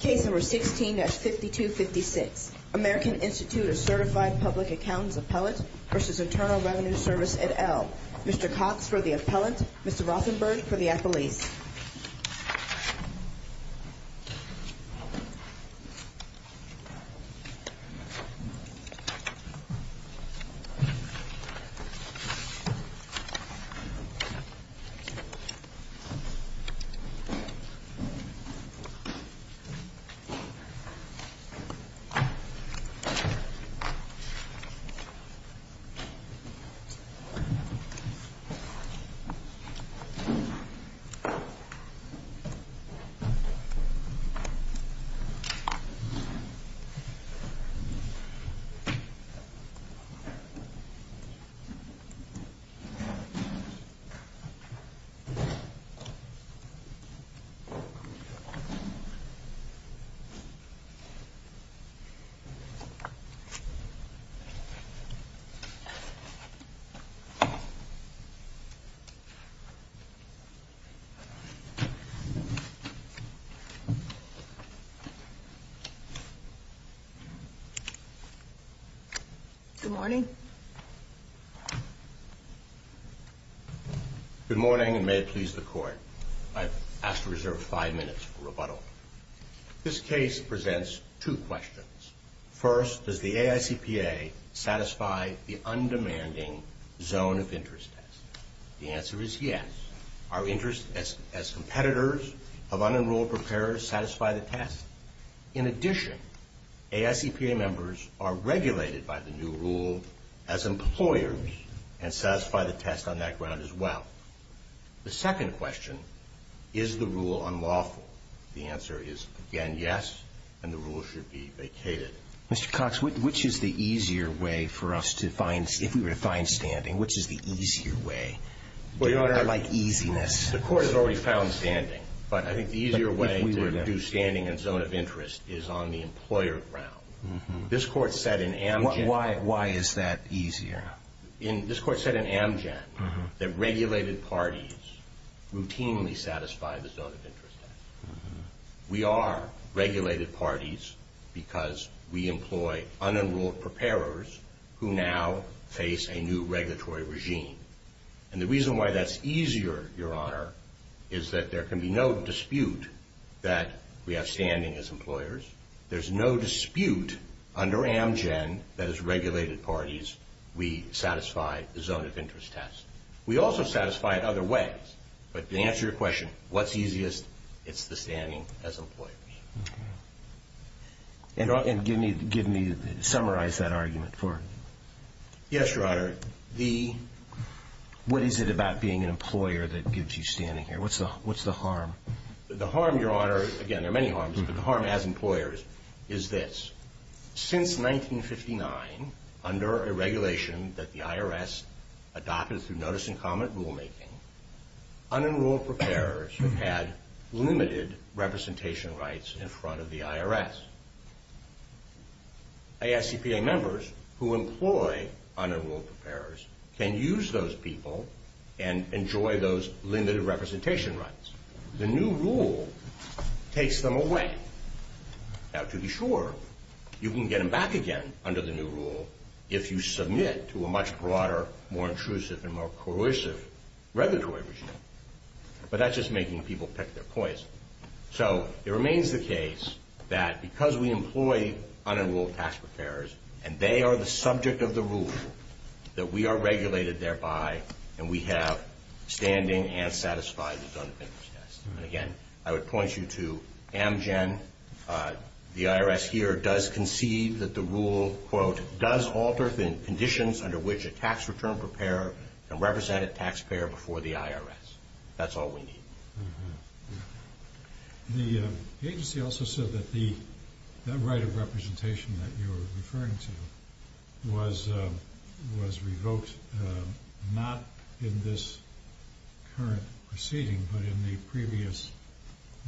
Case number 16-5256, American Institute of Certified Public Accountants Appellant v. Internal Revenue Service et al. Mr. Cox for the appellant, Mr. Rothenberg for the appellees. Mr. Rothenberg for the appellant, Mr. Rothenberg for the appellant, Mr. Rothenberg for the appellant, Mr. Rothenberg for the appellant, Mr. Rothenberg for the appellant, Mr. Rothenberg for the appellant, Mr. Rothenberg for the applallant, Mr. Rothenberg for the appellant, Mr. Rothenberg for the appointee. and satisfy the test on that ground as well. The second question, is the rule unlawful? The answer is, again, yes, and the rule should be vacated. Mr. Cox, which is the easier way for us to find, if we were to find standing, which is the easier way? Your Honor, I like easiness. The Court has already found standing, but I think the easier way to do standing in a zone of interest is on the employer ground. This Court said in Amgen Why is that easier? This Court said in Amgen that regulated parties routinely satisfy the zone of interest. We are regulated parties because we employ unenrolled preparers who now face a new regulatory regime. And the reason why that's easier, Your Honor, is that there can be no dispute that we have standing as employers. There's no dispute under Amgen that as regulated parties, we satisfy the zone of interest test. We also satisfy it other ways, but to answer your question, what's easiest, it's the standing as employers. And give me, summarize that argument for me. Yes, Your Honor. What is it about being an employer that gives you standing here? What's the harm? The harm, Your Honor, again, there are many harms, but the harm as employers is this. Since 1959, under a regulation that the IRS adopted through notice and comment rulemaking, unenrolled preparers have had limited representation rights in front of the IRS. ISCPA members who employ unenrolled preparers can use those people and enjoy those limited representation rights. The new rule takes them away. Now, to be sure, you can get them back again under the new rule if you submit to a much broader, more intrusive, and more coercive regulatory regime. But that's just making people pick their poison. So it remains the case that because we employ unenrolled tax preparers and they are the subject of the rule, that we are regulated thereby and we have standing and satisfied the zone of interest test. And again, I would point you to Amgen. The IRS here does concede that the rule, quote, does alter the conditions under which a tax return preparer can represent a taxpayer before the IRS. That's all we need. The agency also said that the right of representation that you were referring to was revoked, not in this current proceeding, but in the previous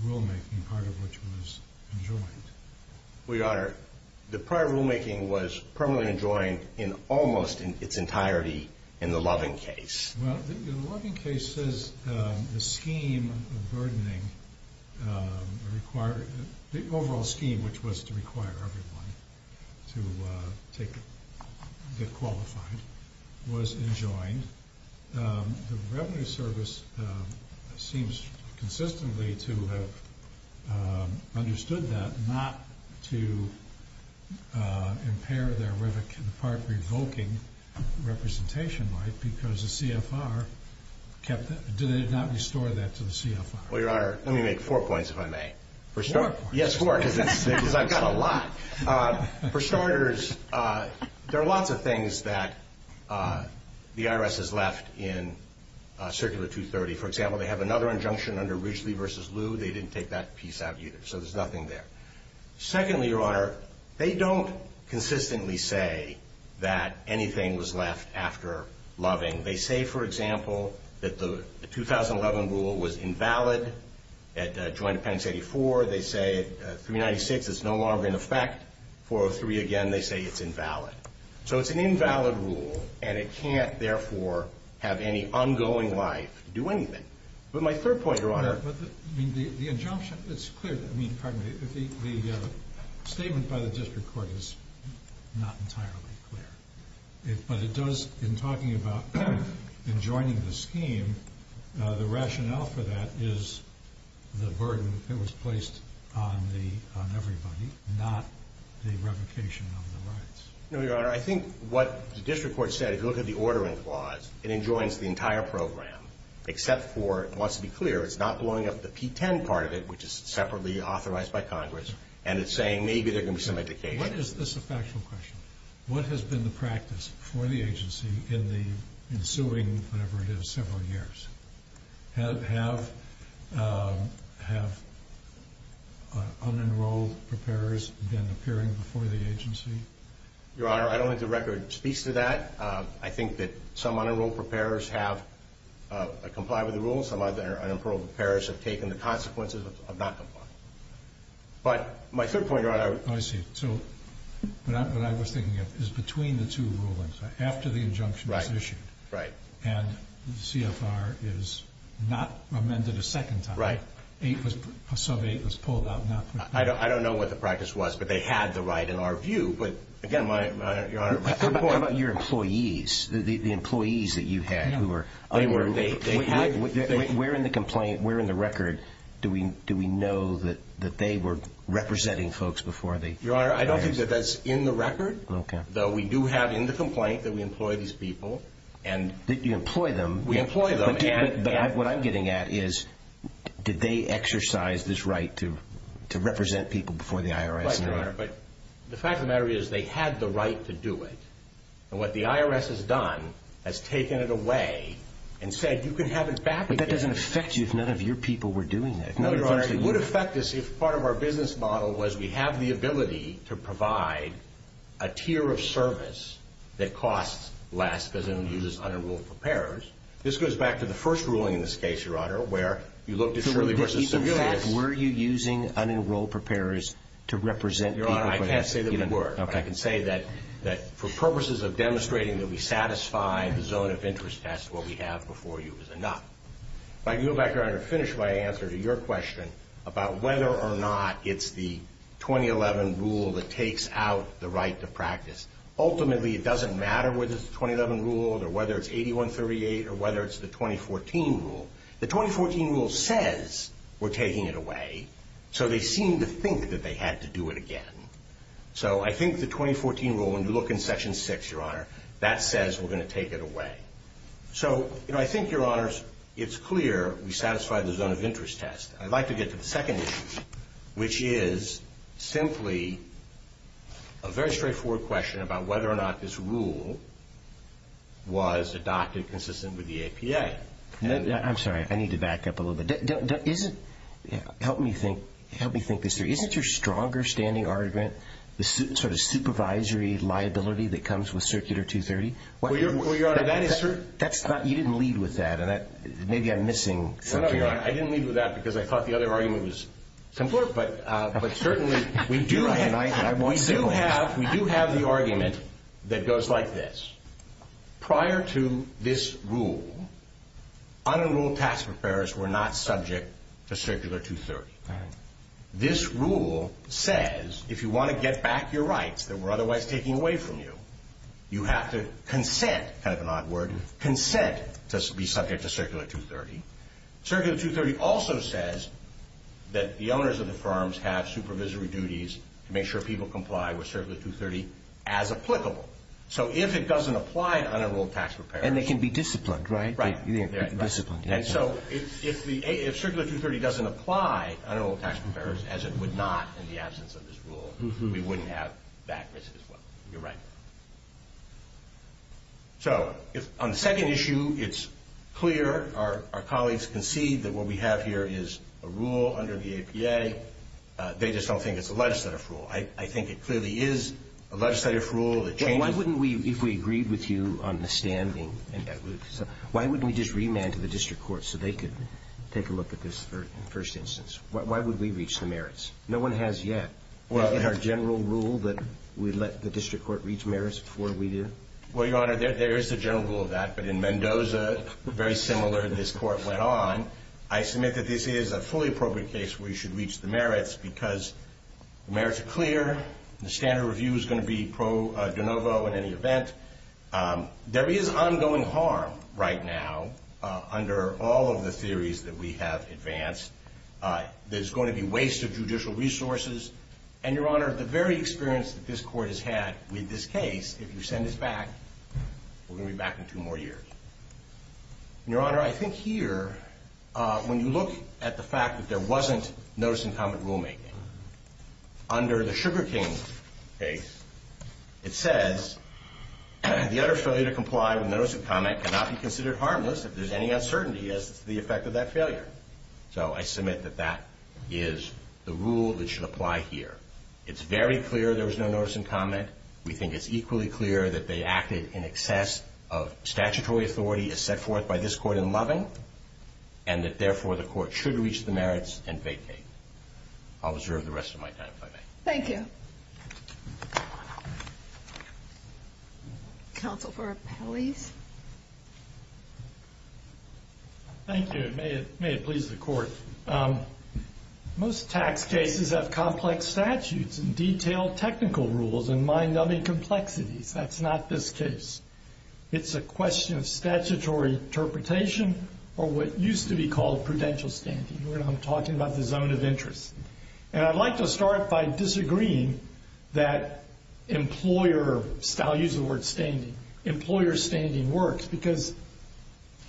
rulemaking, part of which was enjoined. Well, Your Honor, the prior rulemaking was permanently enjoined in almost its entirety in the Loving case. Well, the Loving case says the scheme of burdening required the overall scheme, which was to require everyone to get qualified, was enjoined. The Revenue Service seems consistently to have understood that, not to impair their part revoking representation right because the CFR kept it. Did they not restore that to the CFR? Well, Your Honor, let me make four points, if I may. Four points? Yes, four, because I've got a lot. For starters, there are lots of things that the IRS has left in Circular 230. For example, they have another injunction under Ridgely v. Lu. They didn't take that piece out either, so there's nothing there. Secondly, Your Honor, they don't consistently say that anything was left after Loving. They say, for example, that the 2011 rule was invalid at Joint Appendix 84. They say at 396 it's no longer in effect. 403, again, they say it's invalid. So it's an invalid rule, and it can't, therefore, have any ongoing life to do anything. But my third point, Your Honor. But the injunction, it's clear that, I mean, pardon me, the statement by the district court is not entirely clear. But it does, in talking about enjoining the scheme, the rationale for that is the burden that was placed on everybody, not the revocation of the rights. No, Your Honor. I think what the district court said, if you look at the ordering clause, it enjoins the entire program, except for, it wants to be clear, it's not blowing up the P-10 part of it, which is separately authorized by Congress, and it's saying maybe there can be some indication. This is a factual question. What has been the practice for the agency in the ensuing, whatever it is, several years? Have unenrolled preparers been appearing before the agency? Your Honor, I don't think the record speaks to that. I think that some unenrolled preparers have complied with the rules. Some unenrolled preparers have taken the consequences of not complying. But my third point, Your Honor. I see. So what I was thinking of is between the two rulings, after the injunction was issued. Right. And the CFR is not amended a second time. Right. A sub-8 was pulled out, not put back in. I don't know what the practice was, but they had the right, in our view. But, again, Your Honor. My third point. How about your employees, the employees that you had who were unenrolled? They had. Where in the complaint, where in the record do we know that they were representing folks before they? Your Honor, I don't think that that's in the record. Okay. Though we do have in the complaint that we employ these people. That you employ them. We employ them. But what I'm getting at is did they exercise this right to represent people before the IRS? That's right, Your Honor. But the fact of the matter is they had the right to do it. And what the IRS has done is taken it away and said you can have it back again. But that doesn't affect you if none of your people were doing it. No, Your Honor. It would affect us if part of our business model was we have the ability to provide a tier of service that costs less, because it only uses unenrolled preparers. This goes back to the first ruling in this case, Your Honor, where you looked at Shirley versus. Were you using unenrolled preparers to represent people? Your Honor, I can't say that we were. Okay. But I can say that for purposes of demonstrating that we satisfy the zone of interest test, what we have before you is enough. If I can go back, Your Honor, to finish my answer to your question about whether or not it's the 2011 rule that takes out the right to practice. Ultimately, it doesn't matter whether it's the 2011 rule or whether it's 8138 or whether it's the 2014 rule. The 2014 rule says we're taking it away, so they seem to think that they had to do it again. So I think the 2014 rule, when you look in Section 6, Your Honor, that says we're going to take it away. So, you know, I think, Your Honors, it's clear we satisfy the zone of interest test. I'd like to get to the second issue, which is simply a very straightforward question about whether or not this rule was adopted consistent with the APA. I'm sorry. I need to back up a little bit. Help me think. Help me think this through. Isn't your stronger standing argument the sort of supervisory liability that comes with Circular 230? Well, Your Honor, that is certain. You didn't lead with that. Maybe I'm missing something. I didn't lead with that because I thought the other argument was simpler. But certainly we do have the argument that goes like this. Prior to this rule, unenrolled tax preparers were not subject to Circular 230. This rule says if you want to get back your rights that were otherwise taken away from you, you have to consent, kind of an odd word, consent to be subject to Circular 230. Circular 230 also says that the owners of the firms have supervisory duties to make sure people comply with Circular 230 as applicable. So if it doesn't apply to unenrolled tax preparers. And they can be disciplined, right? Right. Disciplined. And so if Circular 230 doesn't apply to unenrolled tax preparers, as it would not in the absence of this rule, we wouldn't have that risk as well. You're right. So on the second issue, it's clear. Our colleagues concede that what we have here is a rule under the APA. They just don't think it's a legislative rule. I think it clearly is a legislative rule that changes. Why wouldn't we, if we agreed with you on the standing, why wouldn't we just remand to the district court so they could take a look at this in the first instance? Why would we reach the merits? No one has yet. Is it our general rule that we let the district court reach merits before we do? Well, Your Honor, there is a general rule of that. But in Mendoza, very similar, this court went on. I submit that this is a fully appropriate case where you should reach the merits because the merits are clear. The standard review is going to be pro de novo in any event. There is ongoing harm right now under all of the theories that we have advanced. There's going to be waste of judicial resources. And, Your Honor, the very experience that this court has had with this case, if you send us back, we're going to be back in two more years. And, Your Honor, I think here, when you look at the fact that there wasn't notice and comment rulemaking, under the Sugar King case, it says the utter failure to comply with notice and comment cannot be considered harmless if there's any uncertainty as to the effect of that failure. So I submit that that is the rule that should apply here. It's very clear there was no notice and comment. We think it's equally clear that they acted in excess of statutory authority as set forth by this court in Loving and that, therefore, the court should reach the merits and vacate. I'll reserve the rest of my time if I may. Thank you. Counsel for Appellees. Thank you. May it please the Court. Most tax cases have complex statutes and detailed technical rules and mind-numbing complexities. That's not this case. It's a question of statutory interpretation or what used to be called prudential standing. We're not talking about the zone of interest. And I'd like to start by disagreeing that employer, I'll use the word standing, employer standing works because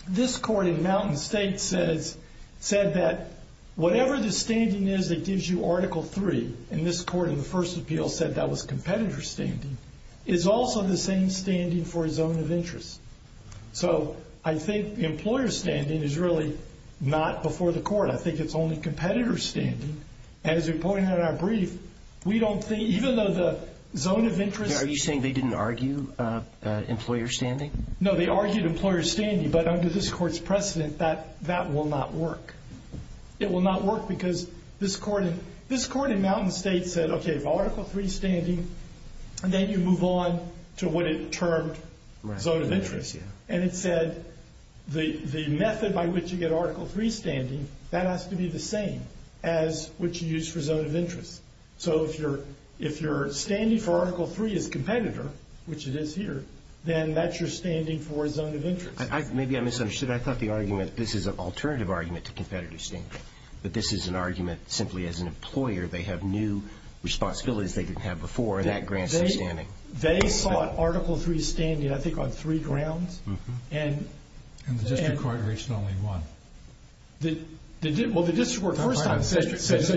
this court in Mountain State said that whatever the standing is that gives you Article 3, and this court in the first appeal said that was competitor standing, is also the same standing for a zone of interest. So I think employer standing is really not before the court. I think it's only competitor standing. As we pointed out in our brief, we don't think, even though the zone of interest Are you saying they didn't argue employer standing? No, they argued employer standing, but under this court's precedent, that will not work. It will not work because this court in Mountain State said, okay, Article 3 standing, and then you move on to what it termed zone of interest. And it said the method by which you get Article 3 standing, that has to be the same as what you use for zone of interest. So if you're standing for Article 3 as competitor, which it is here, then that's your standing for zone of interest. Maybe I misunderstood. I thought the argument, this is an alternative argument to competitor standing. But this is an argument simply as an employer, they have new responsibilities they didn't have before, and that grants them standing. They sought Article 3 standing, I think, on three grounds. And the district court reached only one. Well, the district court first time said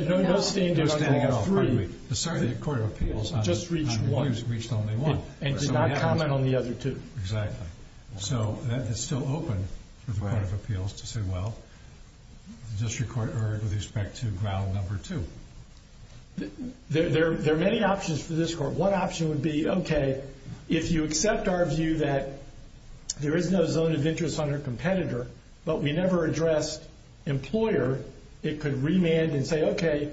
no standing on Article 3. The court of appeals reached only one. And did not comment on the other two. Exactly. So that is still open for the court of appeals to say, well, the district court erred with respect to ground number two. There are many options for this court. One option would be, okay, if you accept our view that there is no zone of interest under competitor, but we never addressed employer, it could remand and say, okay,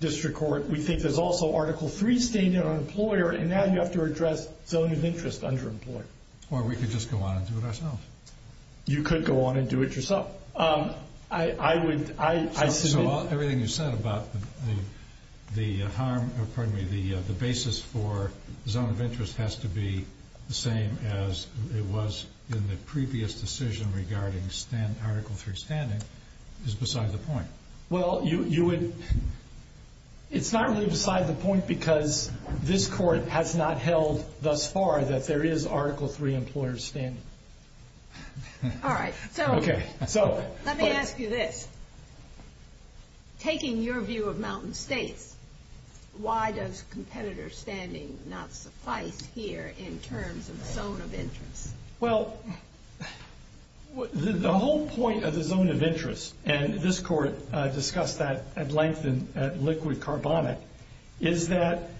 district court, we think there's also Article 3 standing on employer, and now you have to address zone of interest under employer. Or we could just go on and do it ourselves. You could go on and do it yourself. Everything you said about the basis for zone of interest has to be the same as it was in the previous decision regarding Article 3 standing is beside the point. Well, it's not really beside the point because this court has not held thus far that there is Article 3 employer standing. All right. So let me ask you this. Taking your view of Mountain States, why does competitor standing not suffice here in terms of zone of interest? Well, the whole point of the zone of interest, and this court discussed that at length in liquid carbonic, is that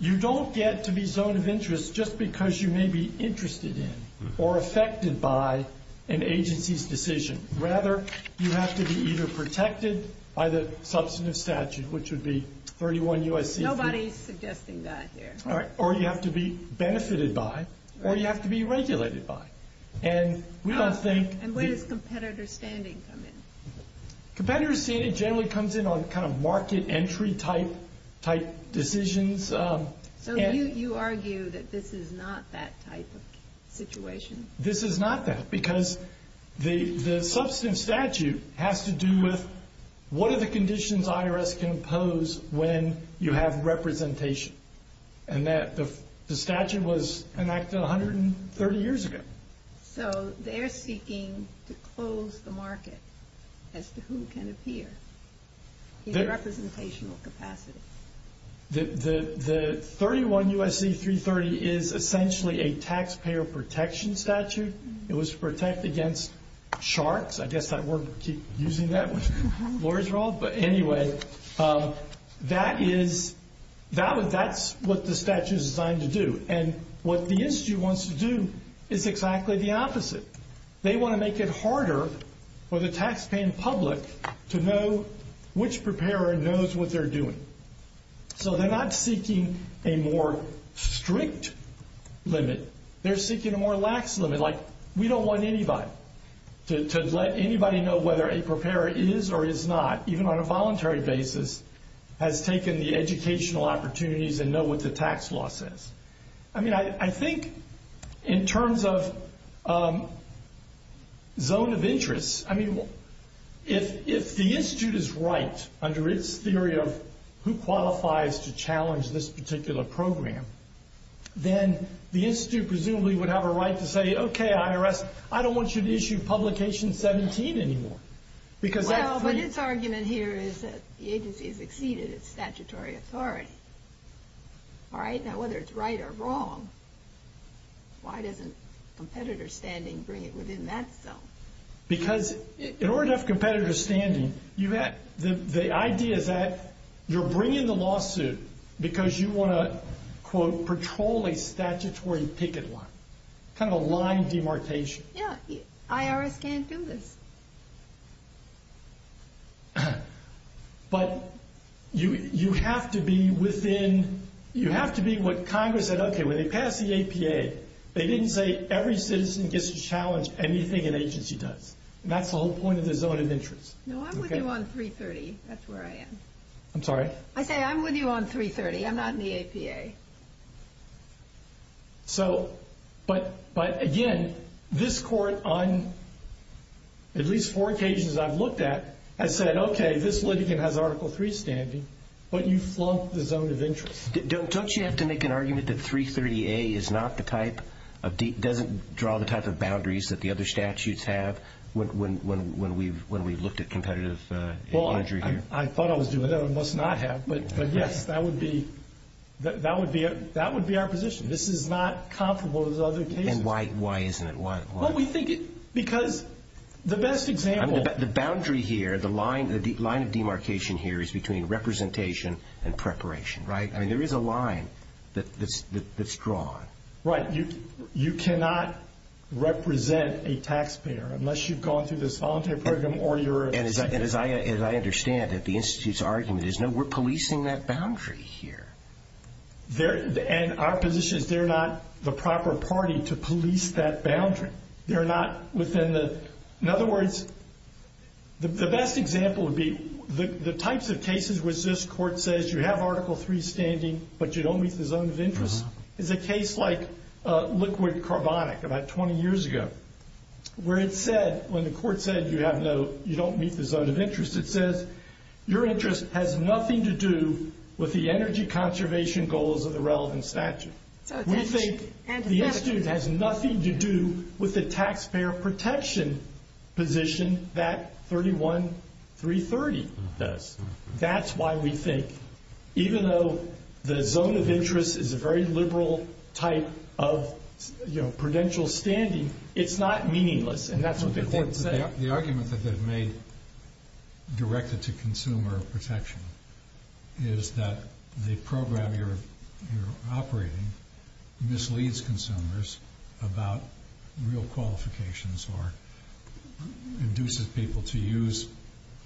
you don't get to be zone of interest just because you may be interested in or affected by an agency's decision. Rather, you have to be either protected by the substantive statute, which would be 31 U.S.C. Nobody's suggesting that here. All right. Or you have to be benefited by, or you have to be regulated by. And we don't think And where does competitor standing come in? Competitor standing generally comes in on kind of market entry type decisions. So you argue that this is not that type of situation? This is not that because the substantive statute has to do with what are the conditions IRS can impose when you have representation. And the statute was enacted 130 years ago. So they're seeking to close the market as to who can appear in a representational capacity. The 31 U.S.C. 330 is essentially a taxpayer protection statute. It was to protect against sharks. I guess that word would keep using that when lawyers are old. But anyway, that's what the statute is designed to do. And what the institute wants to do is exactly the opposite. They want to make it harder for the taxpaying public to know which preparer knows what they're doing. So they're not seeking a more strict limit. They're seeking a more lax limit, like we don't want anybody to let anybody know whether a preparer is or is not, even on a voluntary basis, has taken the educational opportunities and know what the tax law says. I mean, I think in terms of zone of interest, I mean, if the institute is right under its theory of who qualifies to challenge this particular program, then the institute presumably would have a right to say, okay, IRS, I don't want you to issue publication 17 anymore. Well, but its argument here is that the agency has exceeded its statutory authority. Now, whether it's right or wrong, why doesn't competitor standing bring it within that zone? Because in order to have competitor standing, the idea is that you're bringing the lawsuit because you want to, quote, patrol a statutory picket line, kind of a line demarcation. Yeah, IRS can't do this. But you have to be within, you have to be what Congress said, okay, when they passed the APA, they didn't say every citizen gets to challenge anything an agency does. And that's the whole point of the zone of interest. No, I'm with you on 330. That's where I am. I'm sorry? I say I'm with you on 330. I'm not in the APA. So, but, again, this court on at least four occasions I've looked at has said, okay, this litigant has Article III standing, but you've flunked the zone of interest. Don't you have to make an argument that 330A is not the type of, doesn't draw the type of boundaries that the other statutes have when we've looked at competitive imagery here? I thought I was doing that. I must not have. But, yes, that would be our position. This is not comparable to those other cases. And why isn't it? Why? Well, we think, because the best example. The boundary here, the line of demarcation here is between representation and preparation, right? I mean, there is a line that's drawn. Right. You cannot represent a taxpayer unless you've gone through this voluntary program or you're a secretary. And as I understand it, the Institute's argument is, no, we're policing that boundary here. And our position is they're not the proper party to police that boundary. They're not within the, in other words, the best example would be the types of cases which this court says, you have Article III standing, but you don't meet the zone of interest. There's a case like Liquid Carbonic about 20 years ago where it said, when the court said you have no, you don't meet the zone of interest, it says, your interest has nothing to do with the energy conservation goals of the relevant statute. We think the Institute has nothing to do with the taxpayer protection position that 31330 does. That's why we think, even though the zone of interest is a very liberal type of, you know, prudential standing, it's not meaningless, and that's what the court said. The argument that they've made directed to consumer protection is that the program you're operating misleads consumers about real qualifications or induces people to use,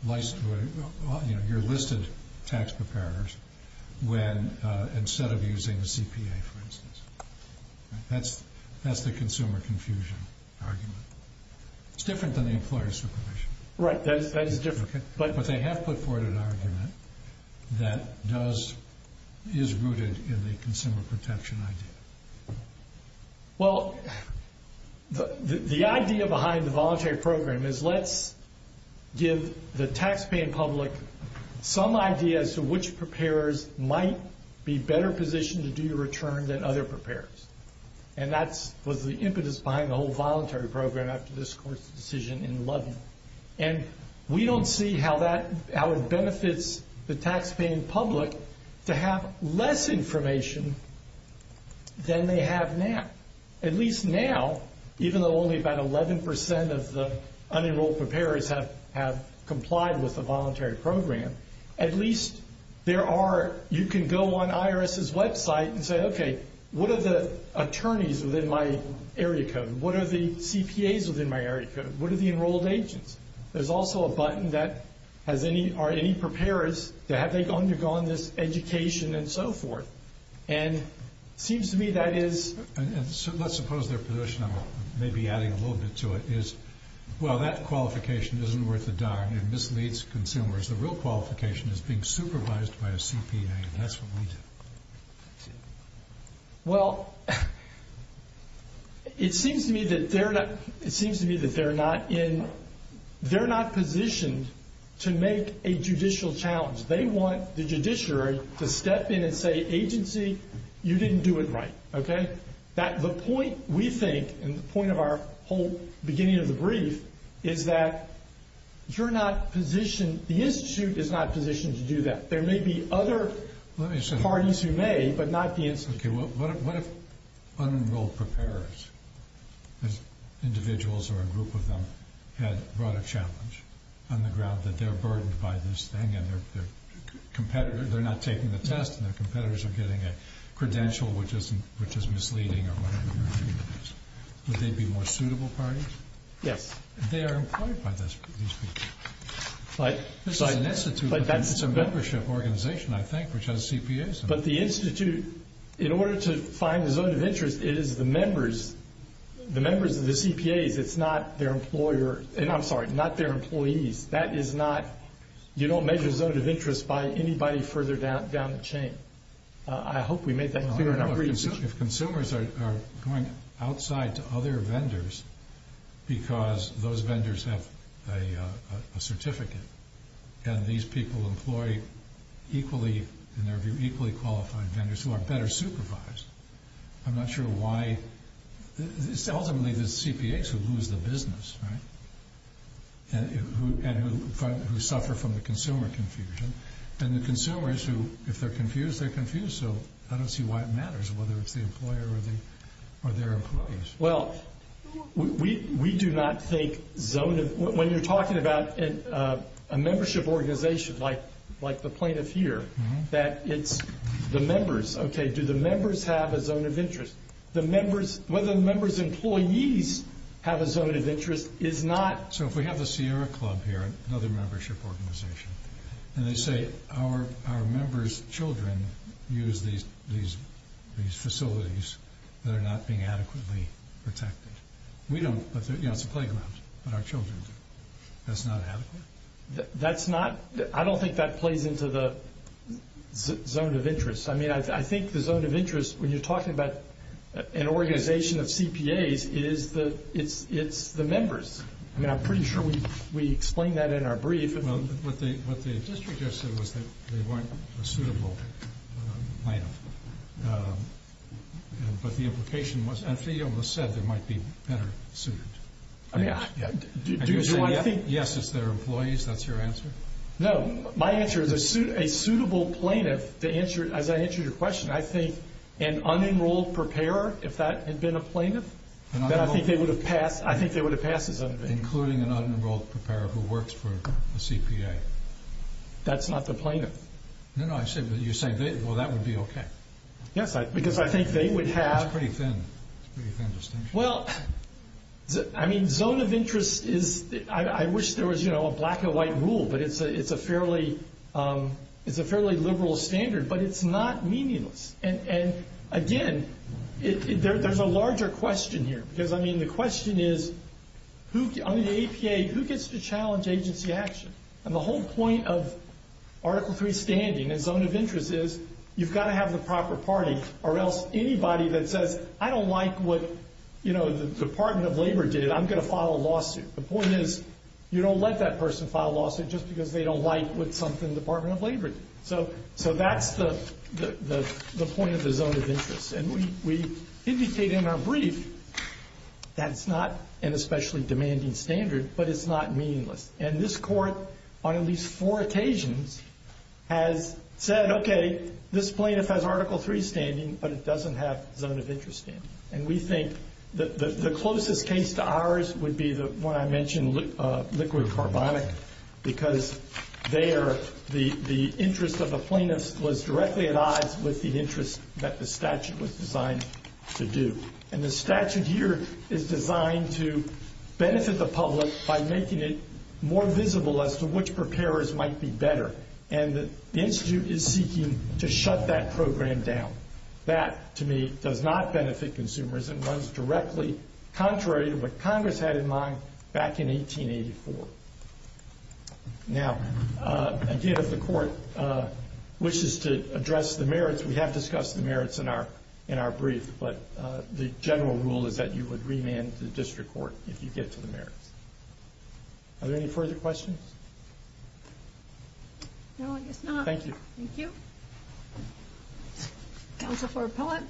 you know, your listed tax preparers when, instead of using the CPA, for instance. That's the consumer confusion argument. It's different than the employer supervision. Right, that is different. But they have put forward an argument that does, is rooted in the consumer protection idea. Well, the idea behind the voluntary program is let's give the taxpaying public some idea as to which preparers might be better positioned to do your return than other preparers. And that was the impetus behind the whole voluntary program after this court's decision in Ludden. And we don't see how it benefits the taxpaying public to have less information than they have now. At least now, even though only about 11% of the unenrolled preparers have complied with the voluntary program, at least there are, you can go on IRS's website and say, okay, what are the attorneys within my area code? What are the CPAs within my area code? What are the enrolled agents? There's also a button that has any, are any preparers, have they undergone this education and so forth? And it seems to me that is. And let's suppose their position, maybe adding a little bit to it, is, well, that qualification isn't worth a darn. It misleads consumers. The real qualification is being supervised by a CPA, and that's what we do. Well, it seems to me that they're not, it seems to me that they're not in, they're not positioned to make a judicial challenge. They want the judiciary to step in and say, agency, you didn't do it right. Okay? The point we think, and the point of our whole beginning of the brief, is that you're not positioned, the Institute is not positioned to do that. There may be other parties who may, but not the Institute. Okay, well, what if unenrolled preparers, individuals or a group of them, had brought a challenge on the ground that they're burdened by this thing and their competitors, they're not taking the test and their competitors are getting a credential which is misleading or whatever the argument is. Would they be more suitable parties? Yes. They are employed by these people. This is an Institute, it's a membership organization, I think, which has CPAs in it. But the Institute, in order to find the zone of interest, it is the members, the members of the CPAs, it's not their employer, and I'm sorry, not their employees. That is not, you don't measure zone of interest by anybody further down the chain. I hope we made that clear in our brief. If consumers are going outside to other vendors because those vendors have a certificate, and these people employ equally, in their view, equally qualified vendors who are better supervised, I'm not sure why, ultimately the CPAs who lose the business, right, and who suffer from the consumer confusion, and the consumers who, if they're confused, they're confused, so I don't see why it matters whether it's the employer or their employees. Well, we do not think zone of, when you're talking about a membership organization like the plaintiff here, that it's the members, okay, do the members have a zone of interest? The members, whether the members' employees have a zone of interest is not. So if we have the Sierra Club here, another membership organization, and they say our members' children use these facilities that are not being adequately protected. We don't, but it's a playground, but our children do. That's not adequate? That's not, I don't think that plays into the zone of interest. I mean, I think the zone of interest, when you're talking about an organization of CPAs, it's the members. I mean, I'm pretty sure we explained that in our brief. Well, what the district just said was that they weren't a suitable plaintiff, but the implication was, and she almost said they might be better suited. I mean, do you say, yes, it's their employees, that's your answer? No, my answer is a suitable plaintiff, as I answered your question, I think an unenrolled preparer, if that had been a plaintiff, then I think they would have passed as unenrolled. Including an unenrolled preparer who works for a CPA. That's not the plaintiff. No, no, you're saying, well, that would be okay. Yes, because I think they would have. It's a pretty thin distinction. Well, I mean, zone of interest is, I wish there was a black and white rule, but it's a fairly liberal standard, but it's not meaningless. And, again, there's a larger question here. Because, I mean, the question is, under the APA, who gets to challenge agency action? And the whole point of Article III standing and zone of interest is, you've got to have the proper party, or else anybody that says, I don't like what the Department of Labor did, I'm going to file a lawsuit. The point is, you don't let that person file a lawsuit just because they don't like what something the Department of Labor did. So that's the point of the zone of interest. And we indicate in our brief that it's not an especially demanding standard, but it's not meaningless. And this Court, on at least four occasions, has said, okay, this plaintiff has Article III standing, but it doesn't have zone of interest standing. And we think the closest case to ours would be the one I mentioned, liquid carbonic, because there the interest of the plaintiff was directly at odds with the interest that the statute was designed to do. And the statute here is designed to benefit the public by making it more visible as to which preparers might be better. And the Institute is seeking to shut that program down. That, to me, does not benefit consumers and runs directly contrary to what Congress had in mind back in 1884. Now, again, if the Court wishes to address the merits, we have discussed the merits in our brief, but the general rule is that you would remand the district court if you get to the merits. Are there any further questions? No, I guess not. Thank you. Thank you. Counsel for Appellate.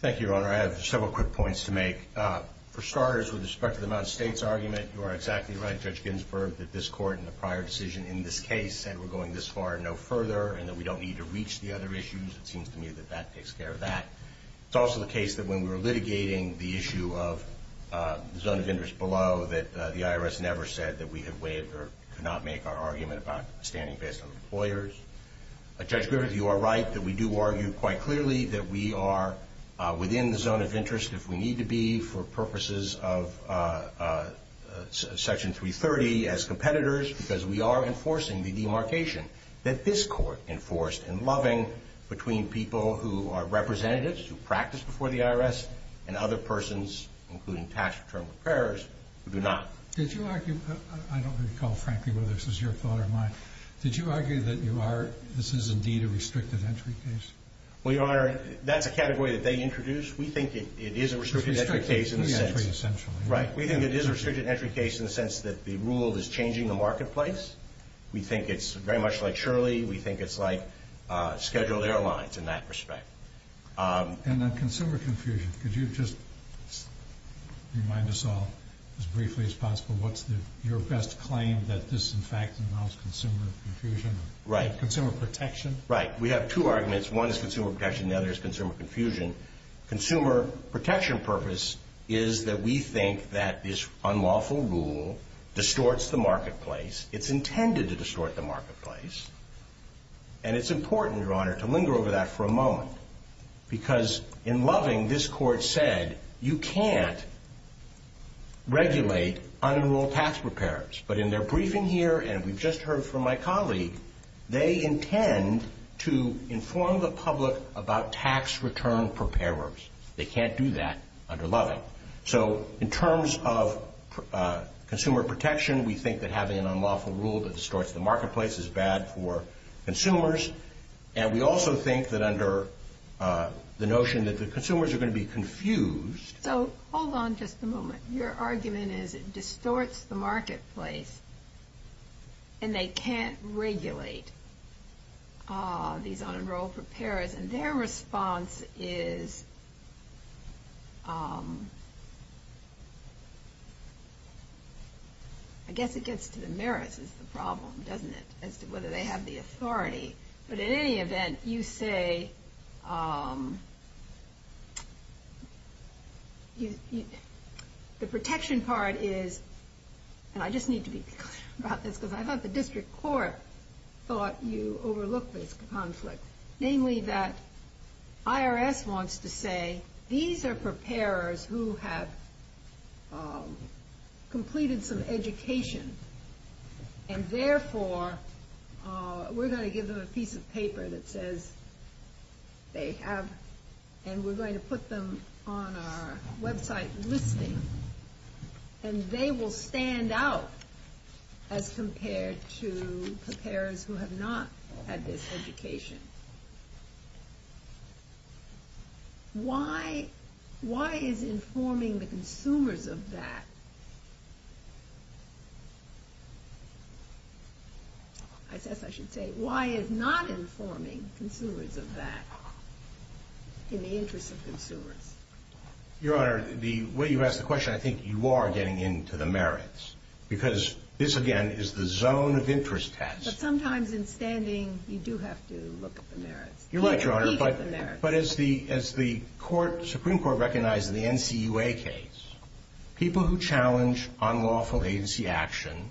Thank you, Your Honor. I have several quick points to make. For starters, with respect to the Mount States argument, you are exactly right, Judge Ginsburg, that this Court in the prior decision in this case said we're going this far and no further and that we don't need to reach the other issues. It seems to me that that takes care of that. It's also the case that when we were litigating the issue of the zone of interest below that the IRS never said that we had waived or could not make our argument about standing based on employers. Judge Griffith, you are right that we do argue quite clearly that we are within the zone of interest if we need to be for purposes of Section 330 as competitors because we are enforcing the demarcation that this Court enforced in Loving between people who are representatives, who practice before the IRS, and other persons, including tax return repairs, who do not. Did you argue... I don't recall, frankly, whether this was your thought or mine. Did you argue that you are... this is indeed a restricted-entry case? Well, Your Honor, that's a category that they introduced. We think it is a restricted-entry case in the sense... It's restricted-entry, essentially. Right. We think it is a restricted-entry case in the sense that the rule is changing the marketplace. We think it's very much like Shirley. We think it's like scheduled airlines in that respect. And on consumer confusion, could you just remind us all, as briefly as possible, what's your best claim, that this, in fact, involves consumer confusion? Right. Consumer protection? Right. We have two arguments. One is consumer protection. The other is consumer confusion. Consumer protection purpose is that we think that this unlawful rule distorts the marketplace. It's intended to distort the marketplace. And it's important, Your Honor, to linger over that for a moment because in Loving, this Court said, you can't regulate unenrolled tax preparers. But in their briefing here, and we've just heard from my colleague, they intend to inform the public about tax return preparers. They can't do that under Loving. So in terms of consumer protection, we think that having an unlawful rule that distorts the marketplace is bad for consumers. And we also think that under the notion that the consumers are going to be confused. So hold on just a moment. Your argument is it distorts the marketplace and they can't regulate these unenrolled preparers. And their response is, I guess it gets to the merits is the problem, doesn't it, as to whether they have the authority. But in any event, you say... The protection part is, and I just need to be clear about this because I thought the district court thought you overlooked this conflict, namely that IRS wants to say these are preparers who have completed some education. And therefore, we're going to give them a piece of paper that says they have, and we're going to put them on our website listing. And they will stand out as compared to preparers who have not had this education. Why is informing the consumers of that... I guess I should say, why is not informing consumers of that in the interest of consumers? Your Honor, the way you ask the question, I think you are getting into the merits because this, again, is the zone of interest test. But sometimes in standing, you do have to look at the merits. You're right, Your Honor. But as the Supreme Court recognized in the NCUA case, people who challenge unlawful agency action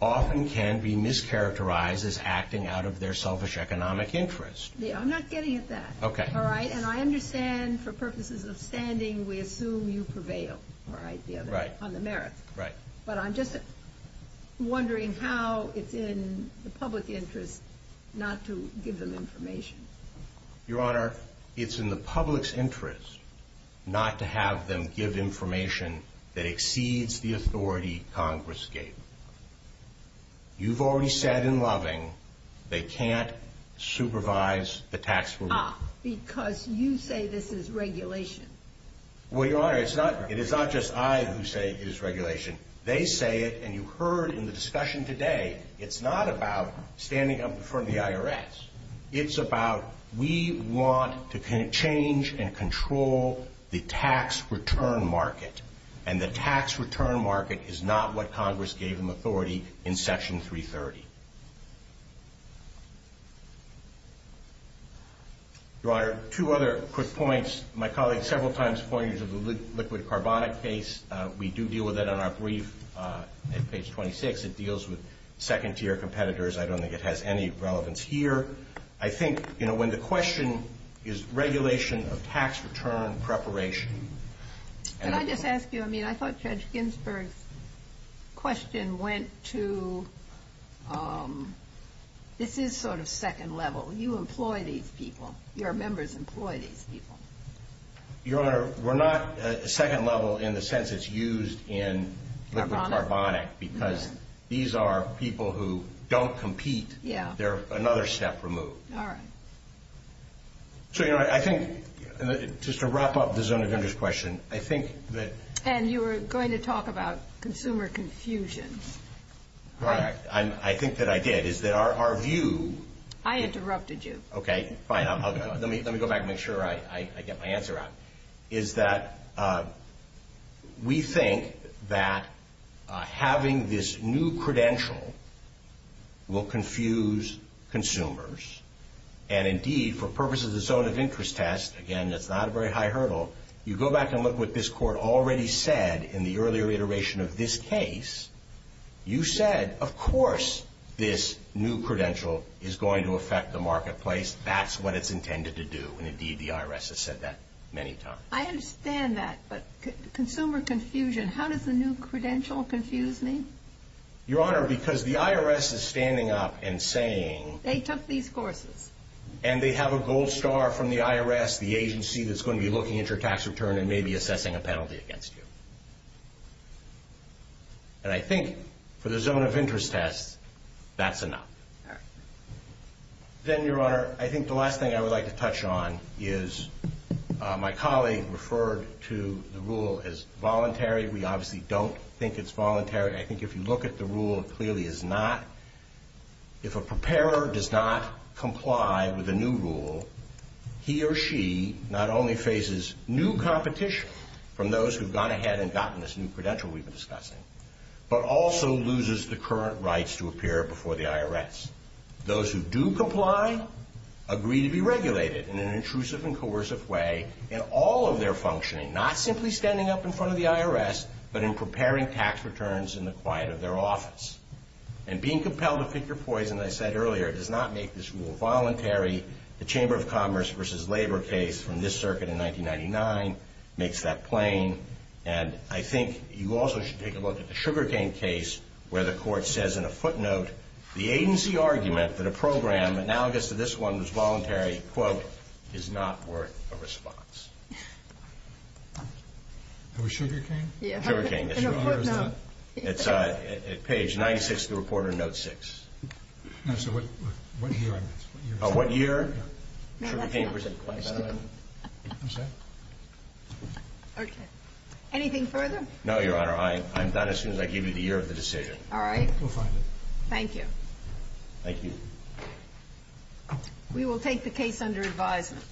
often can be mischaracterized as acting out of their selfish economic interest. I'm not getting at that. Okay. And I understand for purposes of standing, we assume you prevail on the merits. Right. But I'm just wondering how it's in the public interest not to give them information. Your Honor, it's in the public's interest not to have them give information that exceeds the authority Congress gave. You've already said in Loving they can't supervise the tax relief. Ah, because you say this is regulation. Well, Your Honor, it is not just I who say it is regulation. They say it, and you heard in the discussion today, it's not about standing up in front of the IRS. It's about we want to change and control the tax return market. And the tax return market is not what Congress gave them authority in Section 330. Your Honor, two other quick points. My colleague several times pointed to the liquid carbonic case. We do deal with it on our brief at page 26. It deals with second-tier competitors. I don't think it has any relevance here. I think when the question is regulation of tax return preparation. Can I just ask you, I mean, I thought Judge Ginsburg's question went to this is sort of second level. You employ these people. Your members employ these people. Your Honor, we're not second level in the sense it's used in liquid carbonic because these are people who don't compete. They're another step removed. All right. So, Your Honor, I think just to wrap up the Zona Gunders question, I think that... And you were going to talk about consumer confusion. Right. I think that I did. Is that our view... I interrupted you. Okay, fine. Let me go back and make sure I get my answer out. Is that we think that having this new credential will confuse consumers. And, indeed, for purposes of the zone of interest test, again, that's not a very high hurdle, you go back and look at what this Court already said in the earlier iteration of this case, you said, of course, this new credential is going to affect the marketplace. That's what it's intended to do. And, indeed, the IRS has said that many times. I understand that. But consumer confusion, how does the new credential confuse me? Your Honor, because the IRS is standing up and saying... They took these courses. And they have a gold star from the IRS, the agency that's going to be looking at your tax return and maybe assessing a penalty against you. And I think for the zone of interest test, that's enough. All right. Then, Your Honor, I think the last thing I would like to touch on is my colleague referred to the rule as voluntary. We obviously don't think it's voluntary. I think if you look at the rule, it clearly is not. If a preparer does not comply with a new rule, he or she not only faces new competition from those who have gone ahead and gotten this new credential we've been discussing, but also loses the current rights to appear before the IRS. Those who do comply agree to be regulated in an intrusive and coercive way in all of their functioning, not simply standing up in front of the IRS, but in preparing tax returns in the quiet of their office. And being compelled to pick your poison, as I said earlier, does not make this rule voluntary. The Chamber of Commerce v. Labor case from this circuit in 1999 makes that plain. And I think you also should take a look at the sugarcane case where the court says in a footnote, the agency argument that a program analogous to this one was voluntary, quote, is not worth a response. That was sugarcane? Yeah. Sugarcane, yes. In a footnote. It's at page 96 of the Reporter Note 6. So what year? What year? Sugarcane was in question. I'm sorry? Okay. Anything further? No, Your Honor. I'm done as soon as I give you the year of the decision. All right. We'll find it. Thank you. Thank you. We will take the case under advisement.